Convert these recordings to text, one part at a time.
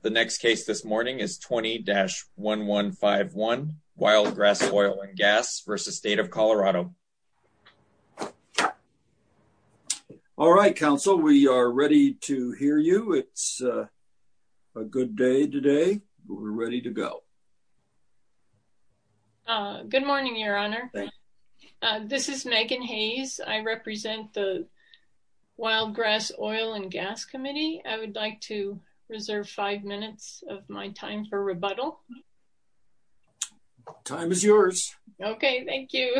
The next case this morning is 20-1151 Wildgrass Oil and Gas v. State of Colorado. All right, counsel. We are ready to hear you. It's a good day today. We're ready to go. Good morning, your honor. This is Megan Hayes. I represent the Wildgrass Oil and Gas Committee. I would like to reserve five minutes of my time for rebuttal. Time is yours. Okay, thank you.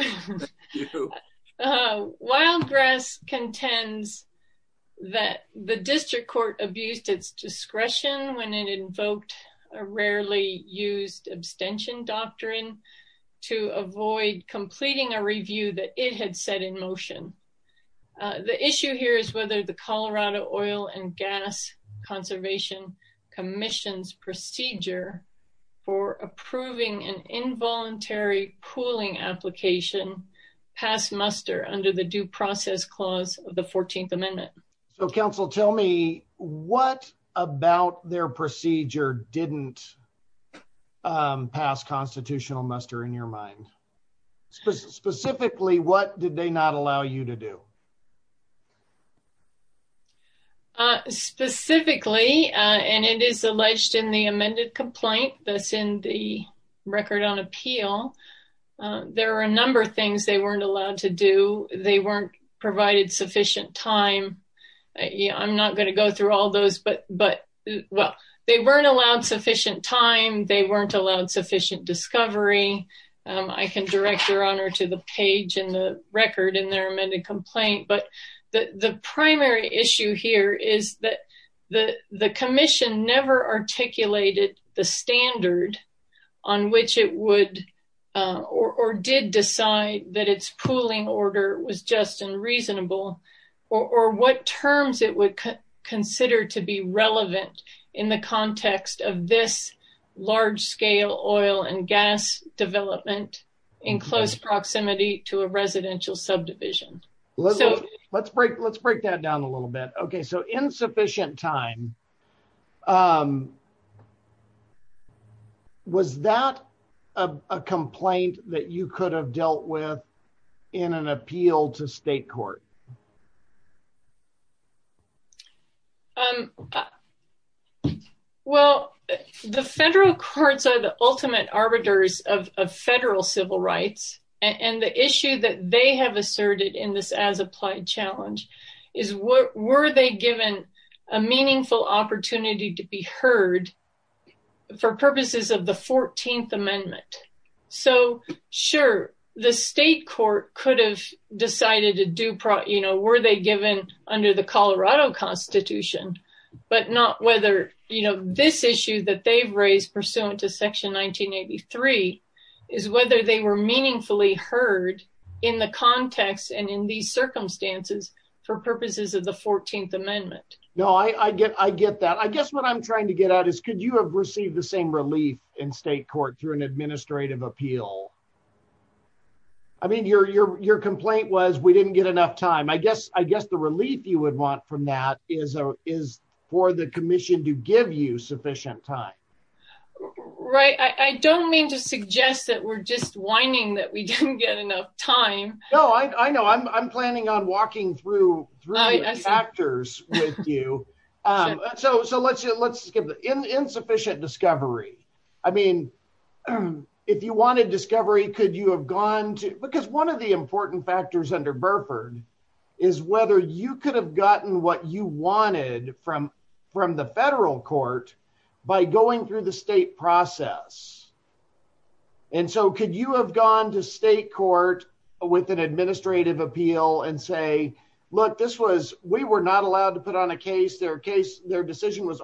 Wildgrass contends that the district court abused its discretion when it invoked a rarely used abstention doctrine to avoid completing a review that it had set in motion. The issue here is whether the Colorado Oil and Gas Conservation Commission's procedure for approving an involuntary pooling application passed muster under the due process clause of the 14th amendment. So, counsel, tell me what about their procedure didn't pass constitutional muster in your mind? Specifically, what did they not allow you to do? Specifically, and it is alleged in the amended complaint that's in the record on appeal, there are a number of things they weren't allowed to do. They weren't provided sufficient time. I'm not going to go through all those, but well, they weren't allowed sufficient time. They weren't allowed sufficient discovery. I can direct your honor to the page in the record in their amended complaint, but the primary issue here is that the commission never articulated the standard on which it would or did decide that its pooling order was just unreasonable or what terms it would consider to be relevant in the context of this large-scale oil and gas development in close proximity to a residential subdivision. Let's break that down a little bit. Okay, so insufficient time. Was that a complaint that you could have dealt with in an appeal to state court? Well, the federal courts are the ultimate arbiters of federal civil rights, and the issue that they have asserted in this as applied challenge is were they given a meaningful opportunity to be heard for purposes of the 14th amendment? So, sure, the state court could have decided to do were they given under the Colorado constitution, but not whether this issue that they've raised pursuant to section 1983 is whether they were meaningfully heard in the context and in these circumstances for purposes of the 14th amendment. No, I get that. I guess what I'm trying to get at is could you have received the same relief in state court through an administrative appeal? I mean, your complaint was we didn't get enough time. I guess the relief you would want from that is for the commission to give you sufficient time. Right, I don't mean to suggest that we're just whining that we didn't get enough time. No, I know. I'm planning on walking through chapters with you. So, let's skip that. Insufficient discovery. I mean, if you wanted discovery, could you have gone to, because one of the important factors under Burford is whether you could have gotten what you wanted from the federal court by going through the state process. And so, could you have gone to state court with an administrative appeal and say, look, this was, we were not allowed to put on a case. Their decision was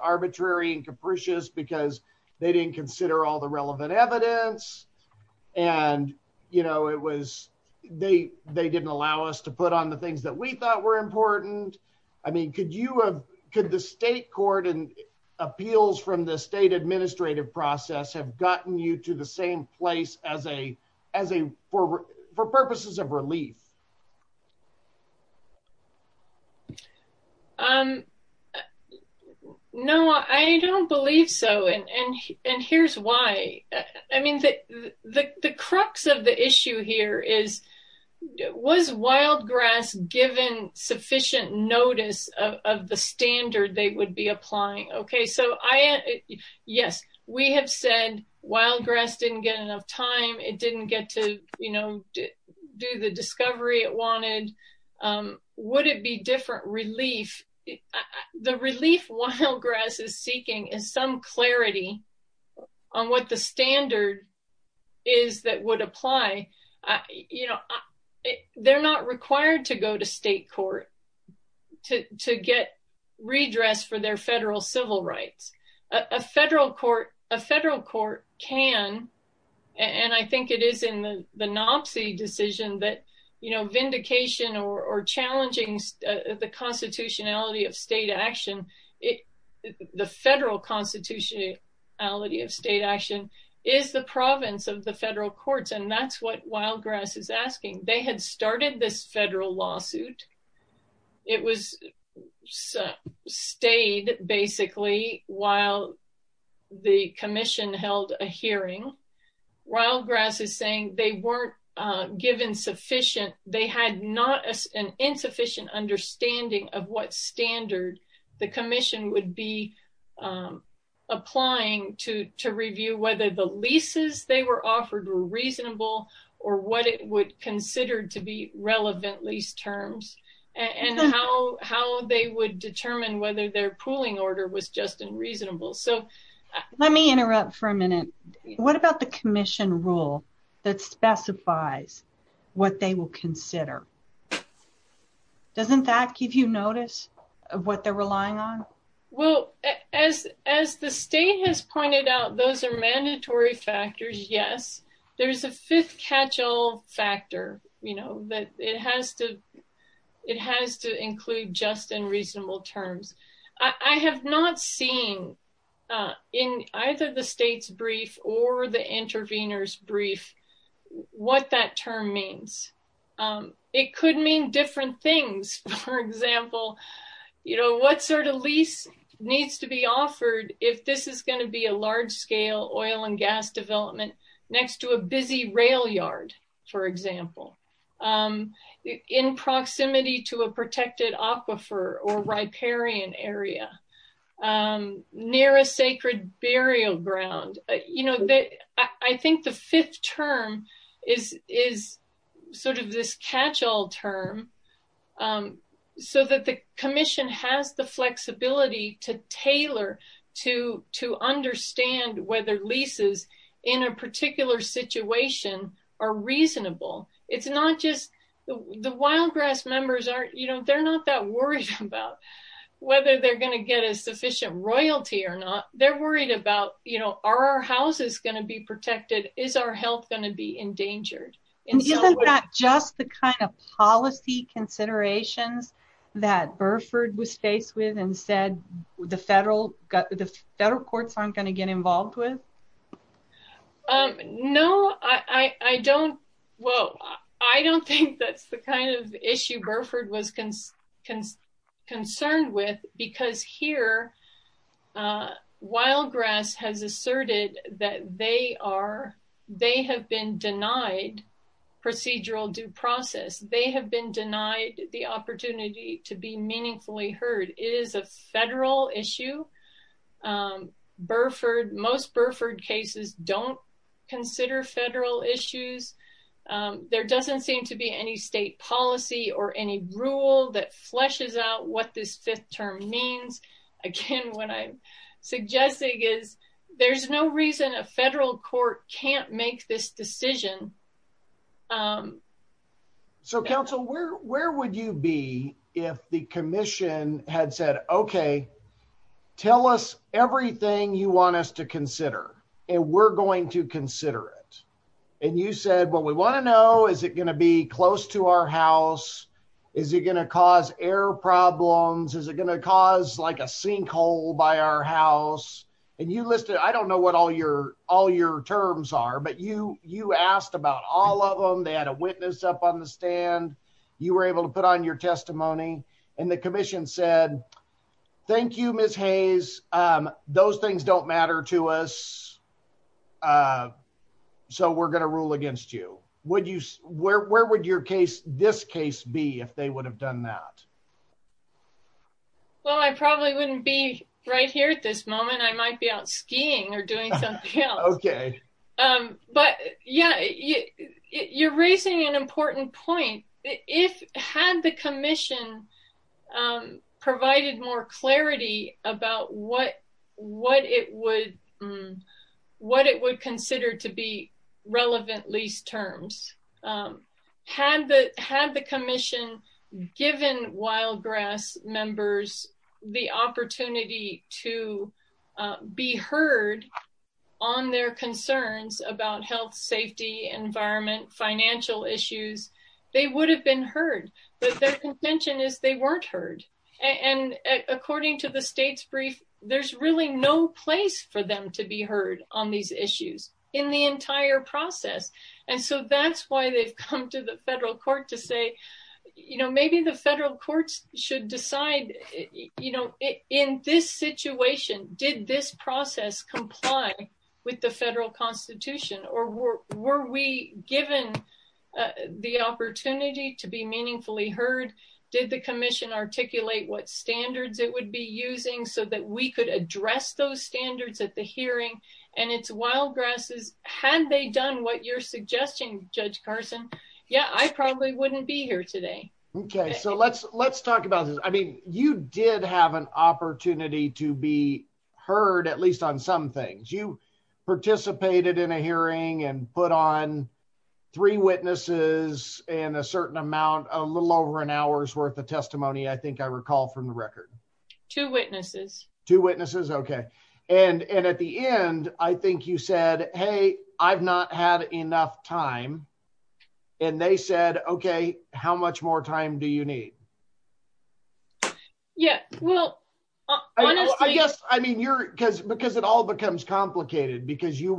evidence. And, you know, it was, they didn't allow us to put on the things that we thought were important. I mean, could you have, could the state court and appeals from the state administrative process have gotten you to the same place as a, for purposes of relief? Um, no, I don't believe so. And here's why. I mean, the crux of the issue here is, was wild grass given sufficient notice of the standard they would be applying? Okay, so I, yes, we have said wild grass didn't get enough time. It didn't get to, you know, do the discovery it wanted. Would it be different relief? The relief wild grass is seeking is some clarity on what the standard is that would apply. You know, they're not required to go to state court to get redressed for their federal civil rights. A federal court can, and I think it is the Nopsey decision that, you know, vindication or challenging the constitutionality of state action. It, the federal constitutionality of state action is the province of the federal courts. And that's what wild grass is asking. They had started this federal lawsuit. It was stayed basically while the commission held a hearing. Wild grass is saying they weren't given sufficient, they had not an insufficient understanding of what standard the commission would be applying to review whether the leases they were offered were reasonable or what it would consider to be relevant lease terms and how they would determine whether their pooling order was just unreasonable. So let me interrupt for a minute. What about the commission rule that specifies what they will consider? Doesn't that give you notice of what they're relying on? Well, as the state has pointed out, those are mandatory factors, yes. There's a fifth catch-all factor, you know, that it has to, it has to include just and reasonable terms. I have not seen in either the state's brief or the intervener's brief what that term means. It could mean different things. For example, you know, what sort of lease needs to be offered if this is going to be a large-scale oil and gas development next to a busy rail yard, for example, in proximity to a protected aquifer or riparian area, near a sacred burial ground. You know, I think the fifth term is sort of this catch-all term so that the commission has the flexibility to tailor to understand whether leases in a particular situation are reasonable. It's not just, the wild grass members aren't, you know, they're not that worried about whether they're going to get a sufficient royalty or not. They're worried about, you know, are our houses going to be endangered? Isn't that just the kind of policy considerations that Burford was faced with and said the federal, the federal courts aren't going to get involved with? No, I don't, whoa, I don't think that's the kind of issue Burford was concerned with because here wild grass has asserted that they are, they have been denied procedural due process. They have been denied the opportunity to be meaningfully heard. It is a federal issue. Burford, most Burford cases don't consider federal issues. There doesn't seem to be any state policy or any rule that suggests there's no reason a federal court can't make this decision. So council, where would you be if the commission had said, okay, tell us everything you want us to consider and we're going to consider it. And you said, well, we want to know, is it going to be close to our house? Is it going to cause air problems? Is it going to cause like a sinkhole by our house? And you listed, I don't know what all your, all your terms are, but you, you asked about all of them. They had a witness up on the stand. You were able to put on your testimony and the commission said, thank you, Ms. Hayes. Those things don't matter to us. So we're going to rule against you. Would you, where, where would your case, this case be if they would have done that? Well, I probably wouldn't be right here at this moment. I might be out skiing or doing something else. But yeah, you're raising an important point. If, had the commission provided more clarity about what, what it would, what it would consider to be relevant lease terms, had the, had the commission given wild grass members the opportunity to be heard on their concerns about health, safety, environment, financial issues, they would have been heard, but their contention is they weren't heard. And according to the state's brief, there's really no place for them to be heard on these issues in the entire process. And so that's why they've come to the federal court to say, you know, maybe the federal courts should decide, you know, in this situation, did this process comply with the federal constitution or were, we given the opportunity to be meaningfully heard? Did the commission articulate what standards it would be using so that we could address those standards at the hearing and it's wild grasses. Had they done what you're suggesting judge Carson? Yeah, I probably wouldn't be here today. Okay. So let's, let's talk about this. I mean, you did have an opportunity to be heard, at least on some things you participated in a hearing and put on three witnesses and a certain amount, a little over an hour's worth of testimony. I think I recall from the record two witnesses, two witnesses. Okay. And, and at the end, I think you said, Hey, I've not had enough time. And they said, okay, how much more time do you need? Yeah, well, I guess, I mean, you're because, because it all becomes complicated because you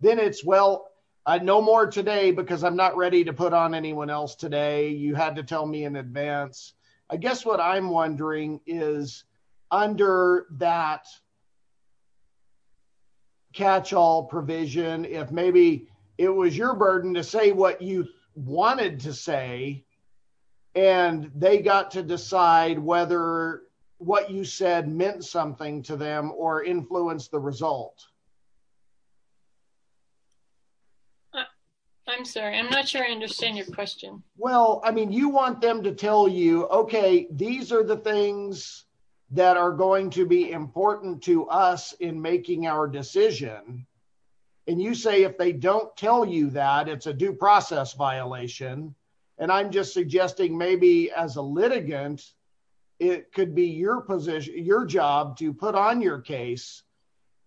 then it's, well, I know more today because I'm not ready to put on anyone else today. You had to tell me in advance, I guess what I'm wondering is under that catch all provision, if maybe it was your burden to say what you wanted to say, and they got to decide whether what you said meant something to them or influence the result. I'm sorry. I'm not sure I understand your question. Well, I mean, you want them to tell you, okay, these are the things that are going to be important to us in making our decision. And you say, if they don't tell you that it's a due process violation, and I'm just suggesting maybe as a litigant, it could be your position, your job to put on your case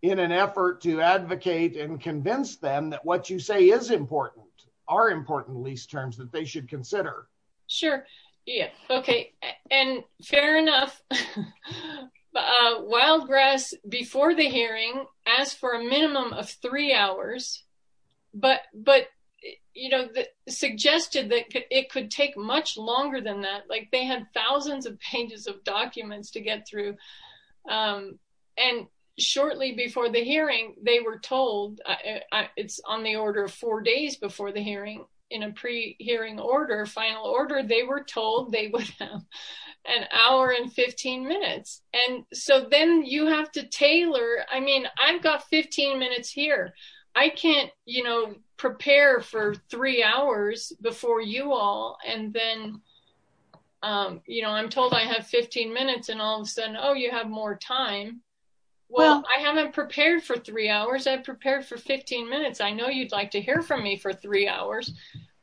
in an effort to convince them that what you say is important, are important lease terms that they should consider. Sure. Yeah. Okay. And fair enough. Wildgrass before the hearing asked for a minimum of three hours, but, you know, suggested that it could take much longer than that. Like they had thousands of pages of documents to I, it's on the order of four days before the hearing in a pre hearing order, final order, they were told they would have an hour and 15 minutes. And so then you have to tailor. I mean, I've got 15 minutes here. I can't, you know, prepare for three hours before you all. And then, you know, I'm told I have 15 minutes and all of a sudden, oh, you have more time. Well, I haven't prepared for three hours. I've prepared for 15 minutes. I know you'd like to hear from me for three hours,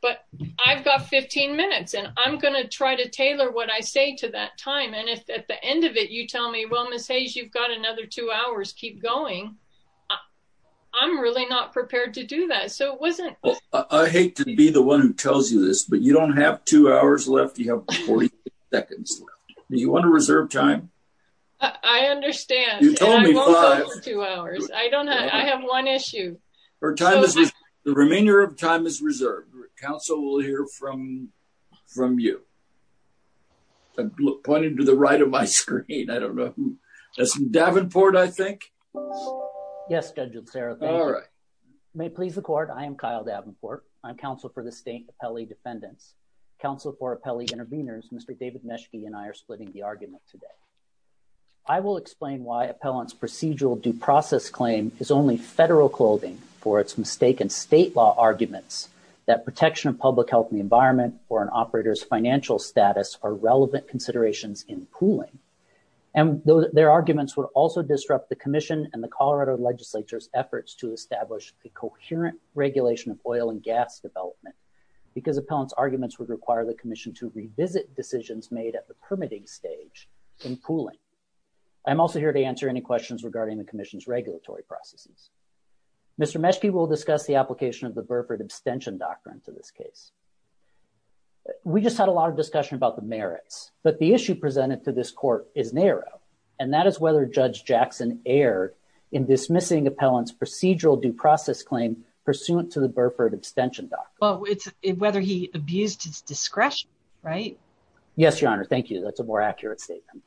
but I've got 15 minutes and I'm going to try to tailor what I say to that time. And if at the end of it, you tell me, well, Miss Hayes, you've got another two hours, keep going. I'm really not prepared to do that. So it wasn't. I hate to be the one who tells you this, but you don't have two hours left. You have 40 seconds. You want to reserve time. I understand. You told me two hours. I don't know. I have one issue. Her time is the remainder of time is reserved. Council will hear from, from you pointed to the right of my screen. I don't know. That's Davenport. I think. Yes. All right. May it please the court. I am Kyle Davenport. I'm counsel for the state appellee defendants, counsel for appellee intervenors. Mr. David Meschke and I are splitting the argument today. I will explain why appellants procedural due process claim is only federal clothing for its mistaken state law arguments that protection of public health and the environment or an operator's financial status are relevant considerations in pooling. And their arguments would also disrupt the commission and the Colorado legislature's efforts to establish a coherent regulation of oil and gas development because appellants arguments would require the commission to revisit decisions made at the permitting stage in pooling. I'm also here to answer any questions regarding the commission's regulatory processes. Mr. Meschke will discuss the application of the Burford abstention doctrine to this case. We just had a lot of discussion about the merits, but the issue presented to this court is narrow. And that is whether judge Jackson aired in dismissing appellants procedural due process. And whether he abused his discretion, right? Yes, your honor. Thank you. That's a more accurate statement.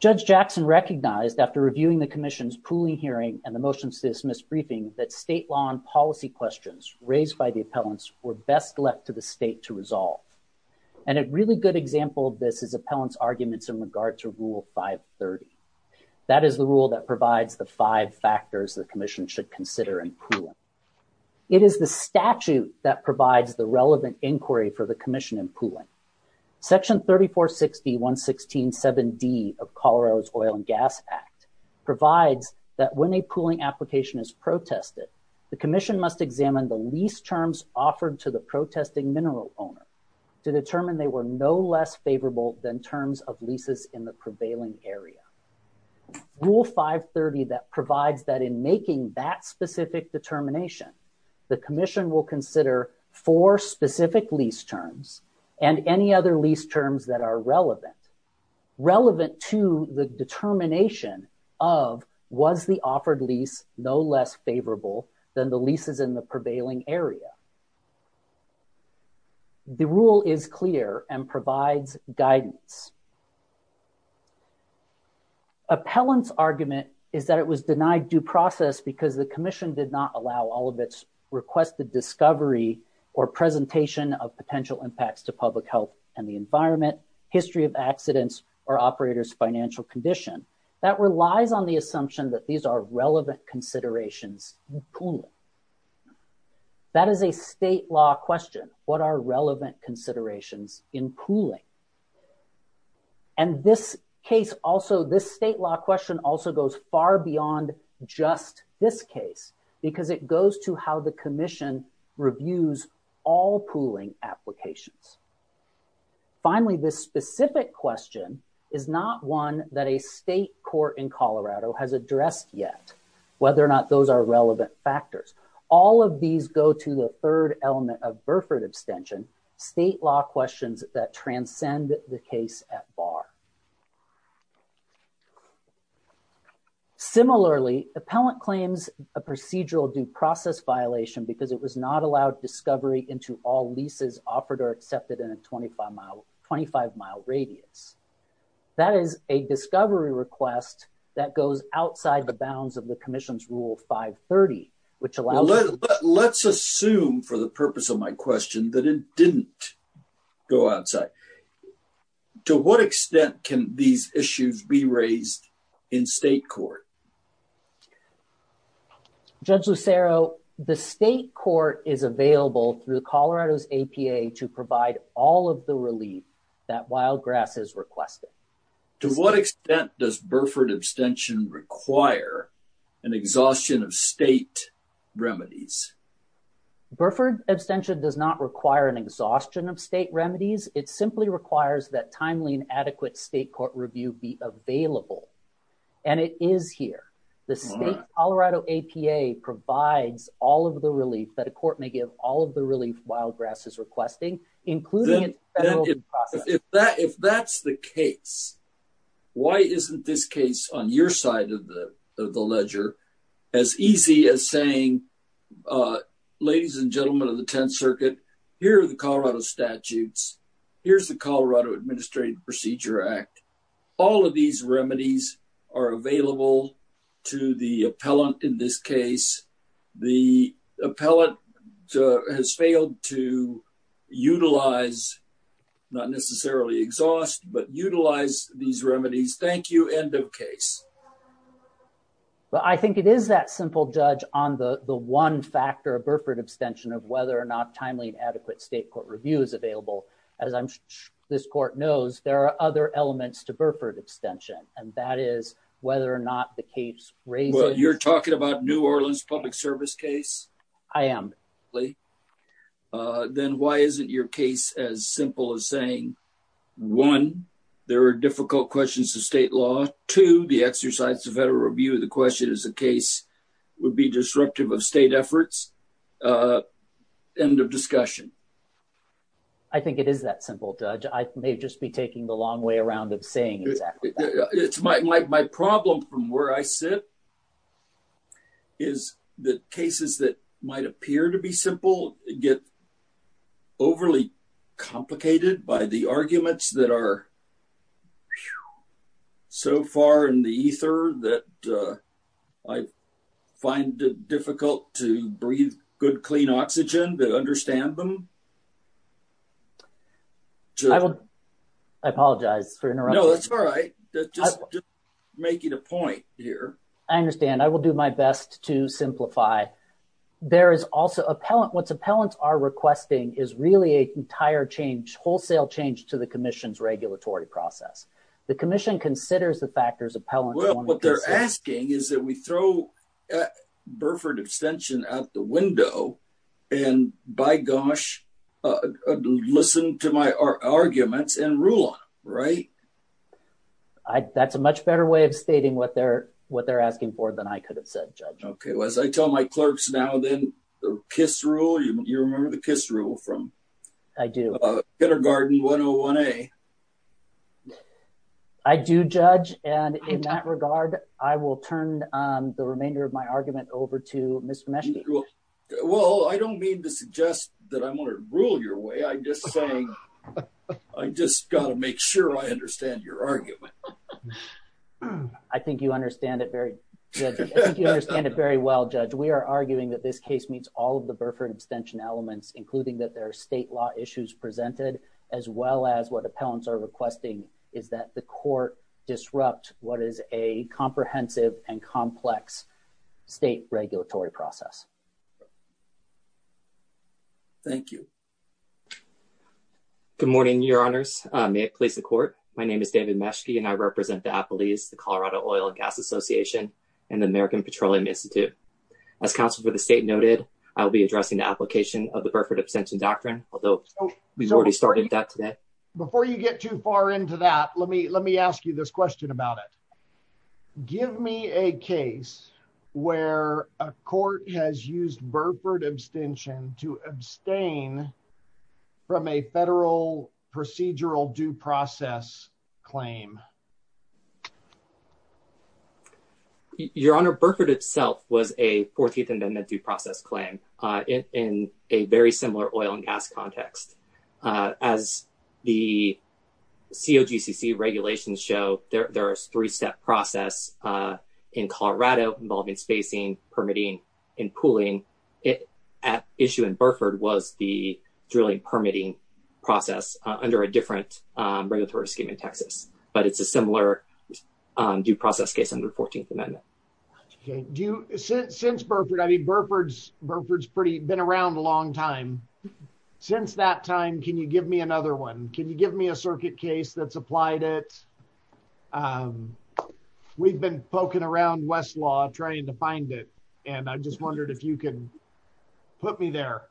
Judge Jackson recognized after reviewing the commission's pooling hearing and the motion to dismiss briefing that state law and policy questions raised by the appellants were best left to the state to resolve. And a really good example of this is appellants arguments in regard to rule 530. That is the rule that provides the five factors the commission should consider in pooling. It is the statute that provides the relevant inquiry for the commission in pooling. Section 3460.116.7d of Colorado's oil and gas act provides that when a pooling application is protested, the commission must examine the lease terms offered to the protesting mineral owner to determine they were no less favorable than terms of leases in the specific determination. The commission will consider four specific lease terms and any other lease terms that are relevant. Relevant to the determination of was the offered lease no less favorable than the leases in the prevailing area. The rule is clear and provides guidance. Appellants argument is that it was denied due process because the commission did not allow all of its requested discovery or presentation of potential impacts to public health and the environment, history of accidents, or operator's financial condition. That relies on the assumption that these are relevant considerations in pooling. That is a state law question. What are relevant considerations in pooling? This state law question also goes far beyond just this case because it goes to how the commission reviews all pooling applications. Finally, this specific question is not one that a state court in Colorado has addressed yet, whether or not those are law questions that transcend the case at bar. Similarly, appellant claims a procedural due process violation because it was not allowed discovery into all leases offered or accepted in a 25-mile radius. That is a discovery request that goes outside the bounds of the commission's rule 530, which allows... Let's assume, for the purpose of my question, that it didn't go outside. To what extent can these issues be raised in state court? Judge Lucero, the state court is available through Colorado's APA to provide all of the relief that Wild Grass is requesting. To what extent does Burford abstention require an exhaustion of state remedies? Burford abstention does not require an exhaustion of state remedies. It simply requires that timely and adequate state court review be available, and it is here. The state Colorado APA provides all of the relief that a court may give all of the relief Wild Grass is requesting, including its federal due process. If that's the case, why isn't this case on your side of the ledger as easy as saying, ladies and gentlemen of the Tenth Circuit, here are the Colorado statutes. Here's the Colorado Administrative Procedure Act. All of these remedies are available to the appellant in this case. The appellant has failed to utilize, not necessarily exhaust, but utilize these remedies. Thank you. End of case. Well, I think it is that simple, Judge, on the one factor of Burford abstention of whether or not timely and adequate state court review is available. As this court knows, there are other elements to Burford abstention, and that is whether or not the case raises... Well, you're talking about New Orleans Public Service case? I am. Then why isn't your case as simple as saying, one, there are difficult questions to state law, two, the exercise of federal review of the question is a case would be disruptive of state efforts? End of discussion. I think it is that simple, Judge. I may just be taking the long way around of saying exactly that. My problem from where I sit is that cases that might appear to be simple get overly complicated by the arguments that are so far in the ether that I find it difficult to breathe good, clean oxygen to understand them. Judge. I apologize for interrupting. No, that's all right. Just making a point here. I understand. I will do my best to simplify. There is also, what's appellants are requesting is really an entire change, wholesale change to the commission's regulatory process. The commission considers the factors appellant... Well, what they're asking is that we throw Burford Extension out the window and, by gosh, listen to my arguments and rule on them, right? That's a much better way of stating what they're asking for than I could have said, Judge. Okay. Well, as I tell my clerks now then, the KISS rule, you remember the KISS rule from... I do. Kettergarten 101A. I do, Judge. And in that regard, I will turn the remainder of my argument over to Mr. Meschke. Well, I don't mean to suggest that I'm going to rule your way. I'm just saying I just got to make sure I understand your argument. I think you understand it very... I think you understand it very well, Judge. We are arguing that this case meets all of the Burford Extension elements, including that there are state law issues presented, as well as what appellants are requesting is that the court disrupt what is a comprehensive and complex state regulatory process. Thank you. Good morning, Your Honors. May it please the court. My name is David Meschke, and I represent the appellees, the Colorado Oil and Gas Association, and the American Petroleum Institute. As counsel for the state noted, I will be addressing the application of the Burford Extension doctrine, although we've already started that today. Before you get too far into that, let me ask you this question about it. Give me a case where a court has used Burford Extension to abstain from a federal procedural due process claim. Your Honor, Burford itself was a 14th Amendment due process claim in a very similar oil and gas context. As the COGCC regulations show, there is a three-step process in Colorado involving spacing, permitting, and pooling. The issue in Burford was the drilling permitting process under a different regulatory scheme in Texas, but it's a similar due process case under the 14th Amendment. Do you, since Burford, I mean, Burford's been around a long time. Since that time, can you give me another one? Can you give me a circuit case that's applied it? We've been poking around Westlaw trying to find it, and I just wondered if you can put me there.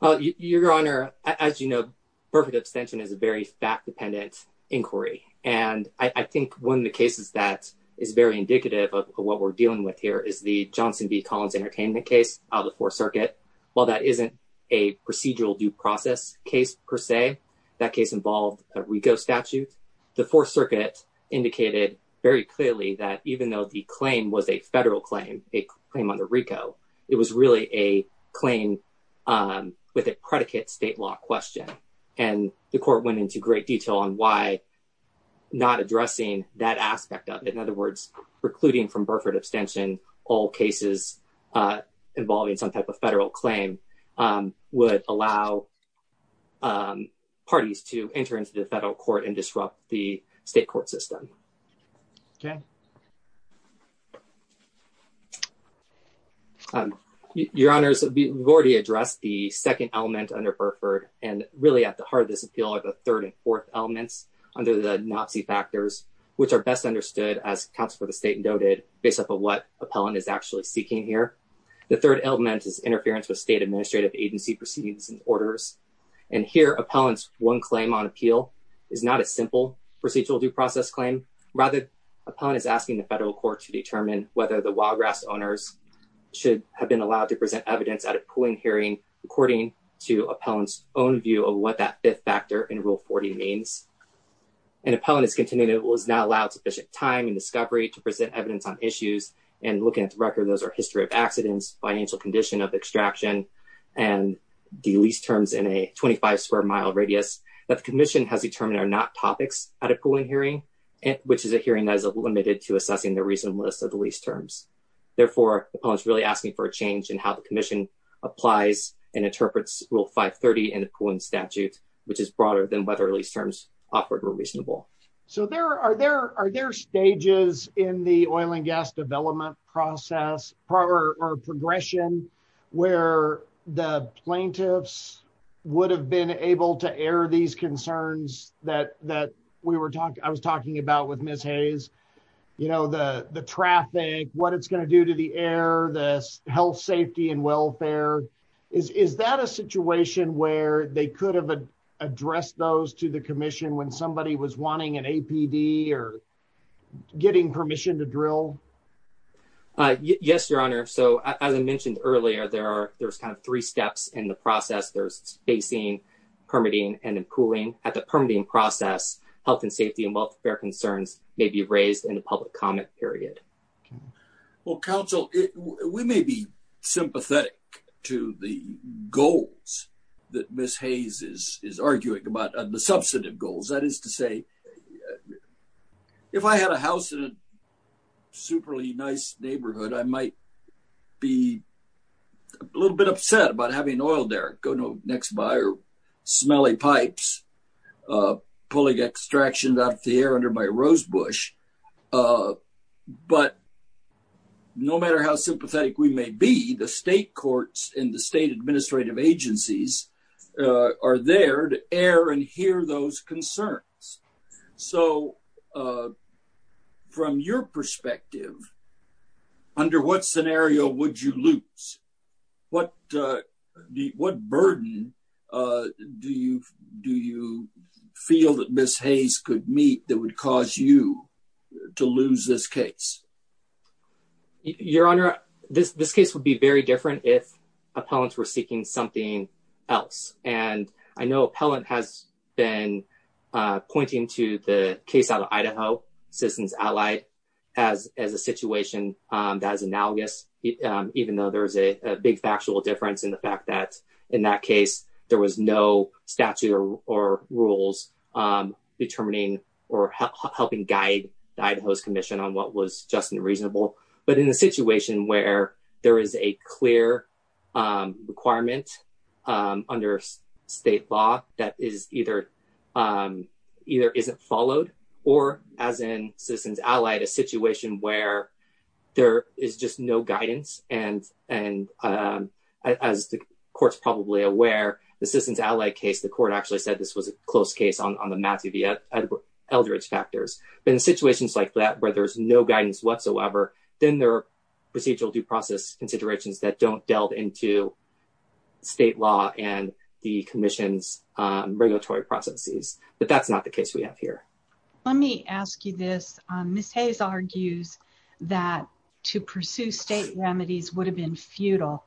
Well, Your Honor, as you know, Burford Extension is a very fact-dependent inquiry, and I think one of the cases that is very indicative of what we're dealing with here is the Johnson v. Collins Entertainment case of the Fourth Circuit. While that isn't a procedural due process case, per se, that case involved a RICO statute, the Fourth Circuit indicated very clearly that even though the claim was a federal claim, a claim under RICO, it was really a claim with a predicate state law question, and the Court went into great detail on why not addressing that aspect of it. In other words, precluding from Burford Extension all cases involving some type of federal claim would allow parties to enter into the federal court and disrupt the state court system. Okay. Your Honors, we've already addressed the second element under Burford, and really at the heart of this appeal are the third and fourth elements under the NOTC factors, which are best understood as counsel for the state and doted based off of what appellant is actually seeking here. The third element is interference with state administrative agency proceedings and orders, and here appellant's one claim on appeal is not a simple procedural due process claim, rather appellant is asking the federal court to determine whether the wild grass owners should have been allowed to present evidence at a pooling hearing according to appellant's own view of what that fifth factor in Rule 40 means. An appellant is continuing to not allow sufficient time and discovery to present evidence on issues, and looking at the record, those are history of accidents, financial condition of extraction, and the lease terms in a 25 square mile radius that the commission has determined are not topics at a pooling hearing, which is a hearing that is limited to assessing the reasonableness of the lease terms. Therefore, appellant's really asking for a change in how the commission applies and interprets Rule 530 in the pooling statute, which is broader than whether lease terms offered were reasonable. So are there stages in the oil and gas development process or progression where the plaintiffs would have been able to air these concerns that I was talking about with Ms. Hayes? You know, the traffic, what it's going to do to the air, the health, safety, and welfare. Is that a situation where they could have addressed those to the commission when somebody was wanting an APD or getting permission to drill? Yes, your honor. So as I mentioned earlier, there's kind of three steps in the process. There's spacing, permitting, and then pooling. At the permitting process, health and safety and welfare concerns may be raised in the public comment period. Well, counsel, we may be sympathetic to the goals that Ms. Hayes is arguing about, the substantive goals. That is to say, if I had a house in a super nice neighborhood, I might be a little bit upset about having an oil derrick go next by or smelly pipes pulling extractions out of the air under my rosebush. But no matter how sympathetic we may be, the state courts and the state administrative agencies are there to air and hear those concerns. Under what scenario would you lose? What burden do you feel that Ms. Hayes could meet that would cause you to lose this case? Your honor, this case would be very different if appellants were seeking something else. And I know appellant has been pointing to the case out of state. I would say that the case is analogous, even though there's a big factual difference in the fact that in that case, there was no statute or rules determining or helping guide Idaho's commission on what was just and reasonable. But in a situation where there is a clear requirement under state law that is either isn't followed, or as in Citizens Allied, a situation where there is just no guidance. And as the court's probably aware, the Citizens Allied case, the court actually said this was a close case on the massive elderage factors. But in situations like that, where there's no guidance whatsoever, then there are procedural due process considerations that don't delve into state law and the commission's regulatory processes. But that's not the case we have here. Let me ask you this. Ms. Hayes argues that to pursue state remedies would have been futile.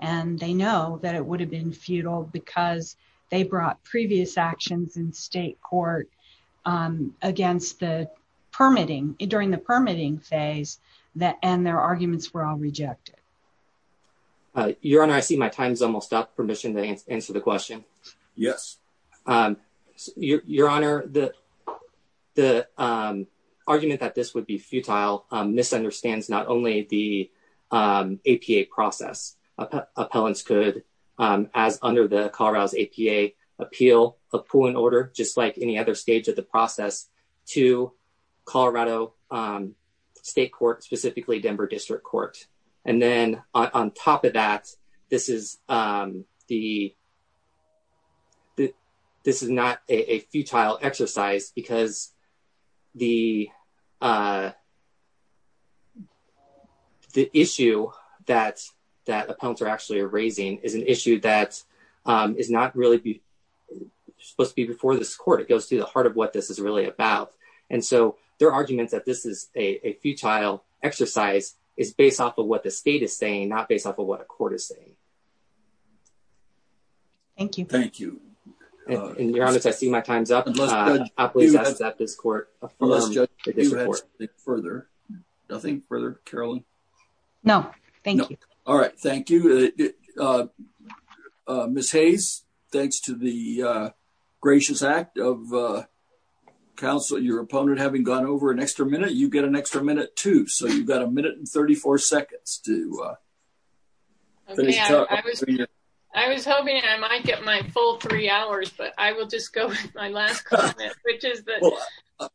And they know that it would have been futile because they brought previous actions in state court against the permitting, during the permitting phase, and their Your Honor, I see my time's almost up. Permission to answer the question? Yes. Your Honor, the argument that this would be futile misunderstands not only the APA process. Appellants could, as under the Colorado's APA, appeal a pooling order, just like any other stage of the process, to Colorado State Court, specifically Denver District Court. And then on top of that, this is not a futile exercise because the issue that appellants are actually raising is an issue that is not really supposed to be before this court. It goes to the heart of what this is really about. And so their arguments that this is a futile exercise is based off of what the state is saying, not based off of what a court is saying. Thank you. Thank you. And Your Honor, I see my time's up. I'll please ask that this court further. Nothing further, Carolyn? No, thank you. All right, thank you. Ms. Hayes, thanks to the gracious act of your opponent having gone over an extra minute, you get an extra minute too. So you've got a minute and 34 seconds to finish up. I was hoping I might get my full three hours, but I will just go with my last comment.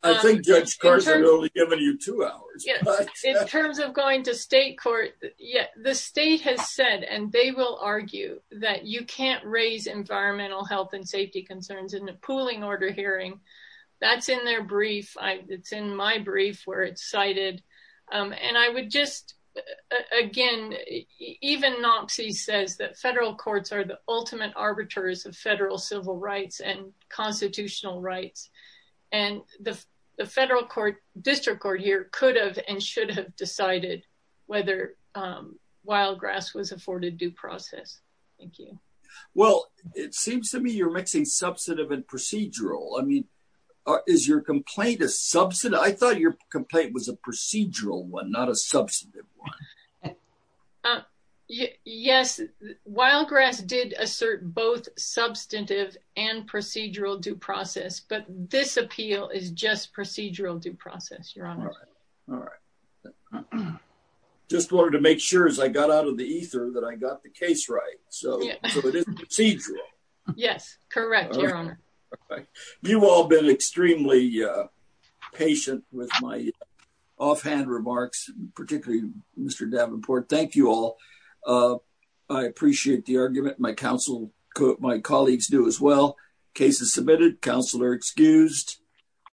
I think Judge Carson only given you two hours. In terms of going to state court, the state has said, and they will argue, that you can't raise environmental health and safety concerns in the pooling order hearing. That's in their brief. It's in my brief where it's cited. And I would just, again, even NOPC says that federal courts are the ultimate arbiters of federal civil rights and constitutional rights. And the federal court, district court here, could have and should have decided whether wild grass was afforded due process. Thank you. Well, it seems to me you're mixing substantive and procedural. I mean, is your complaint a substantive? I thought your complaint was a procedural one, not a substantive one. Yes, wild grass did assert both substantive and procedural due process. But this appeal is just procedural due process, your honor. All right. Just wanted to make sure as I got out the ether that I got the case right. So it is procedural. Yes, correct, your honor. You've all been extremely patient with my offhand remarks, particularly Mr. Davenport. Thank you all. I appreciate the argument. My counsel, my colleagues do as well. Case is submitted. Counselor excused.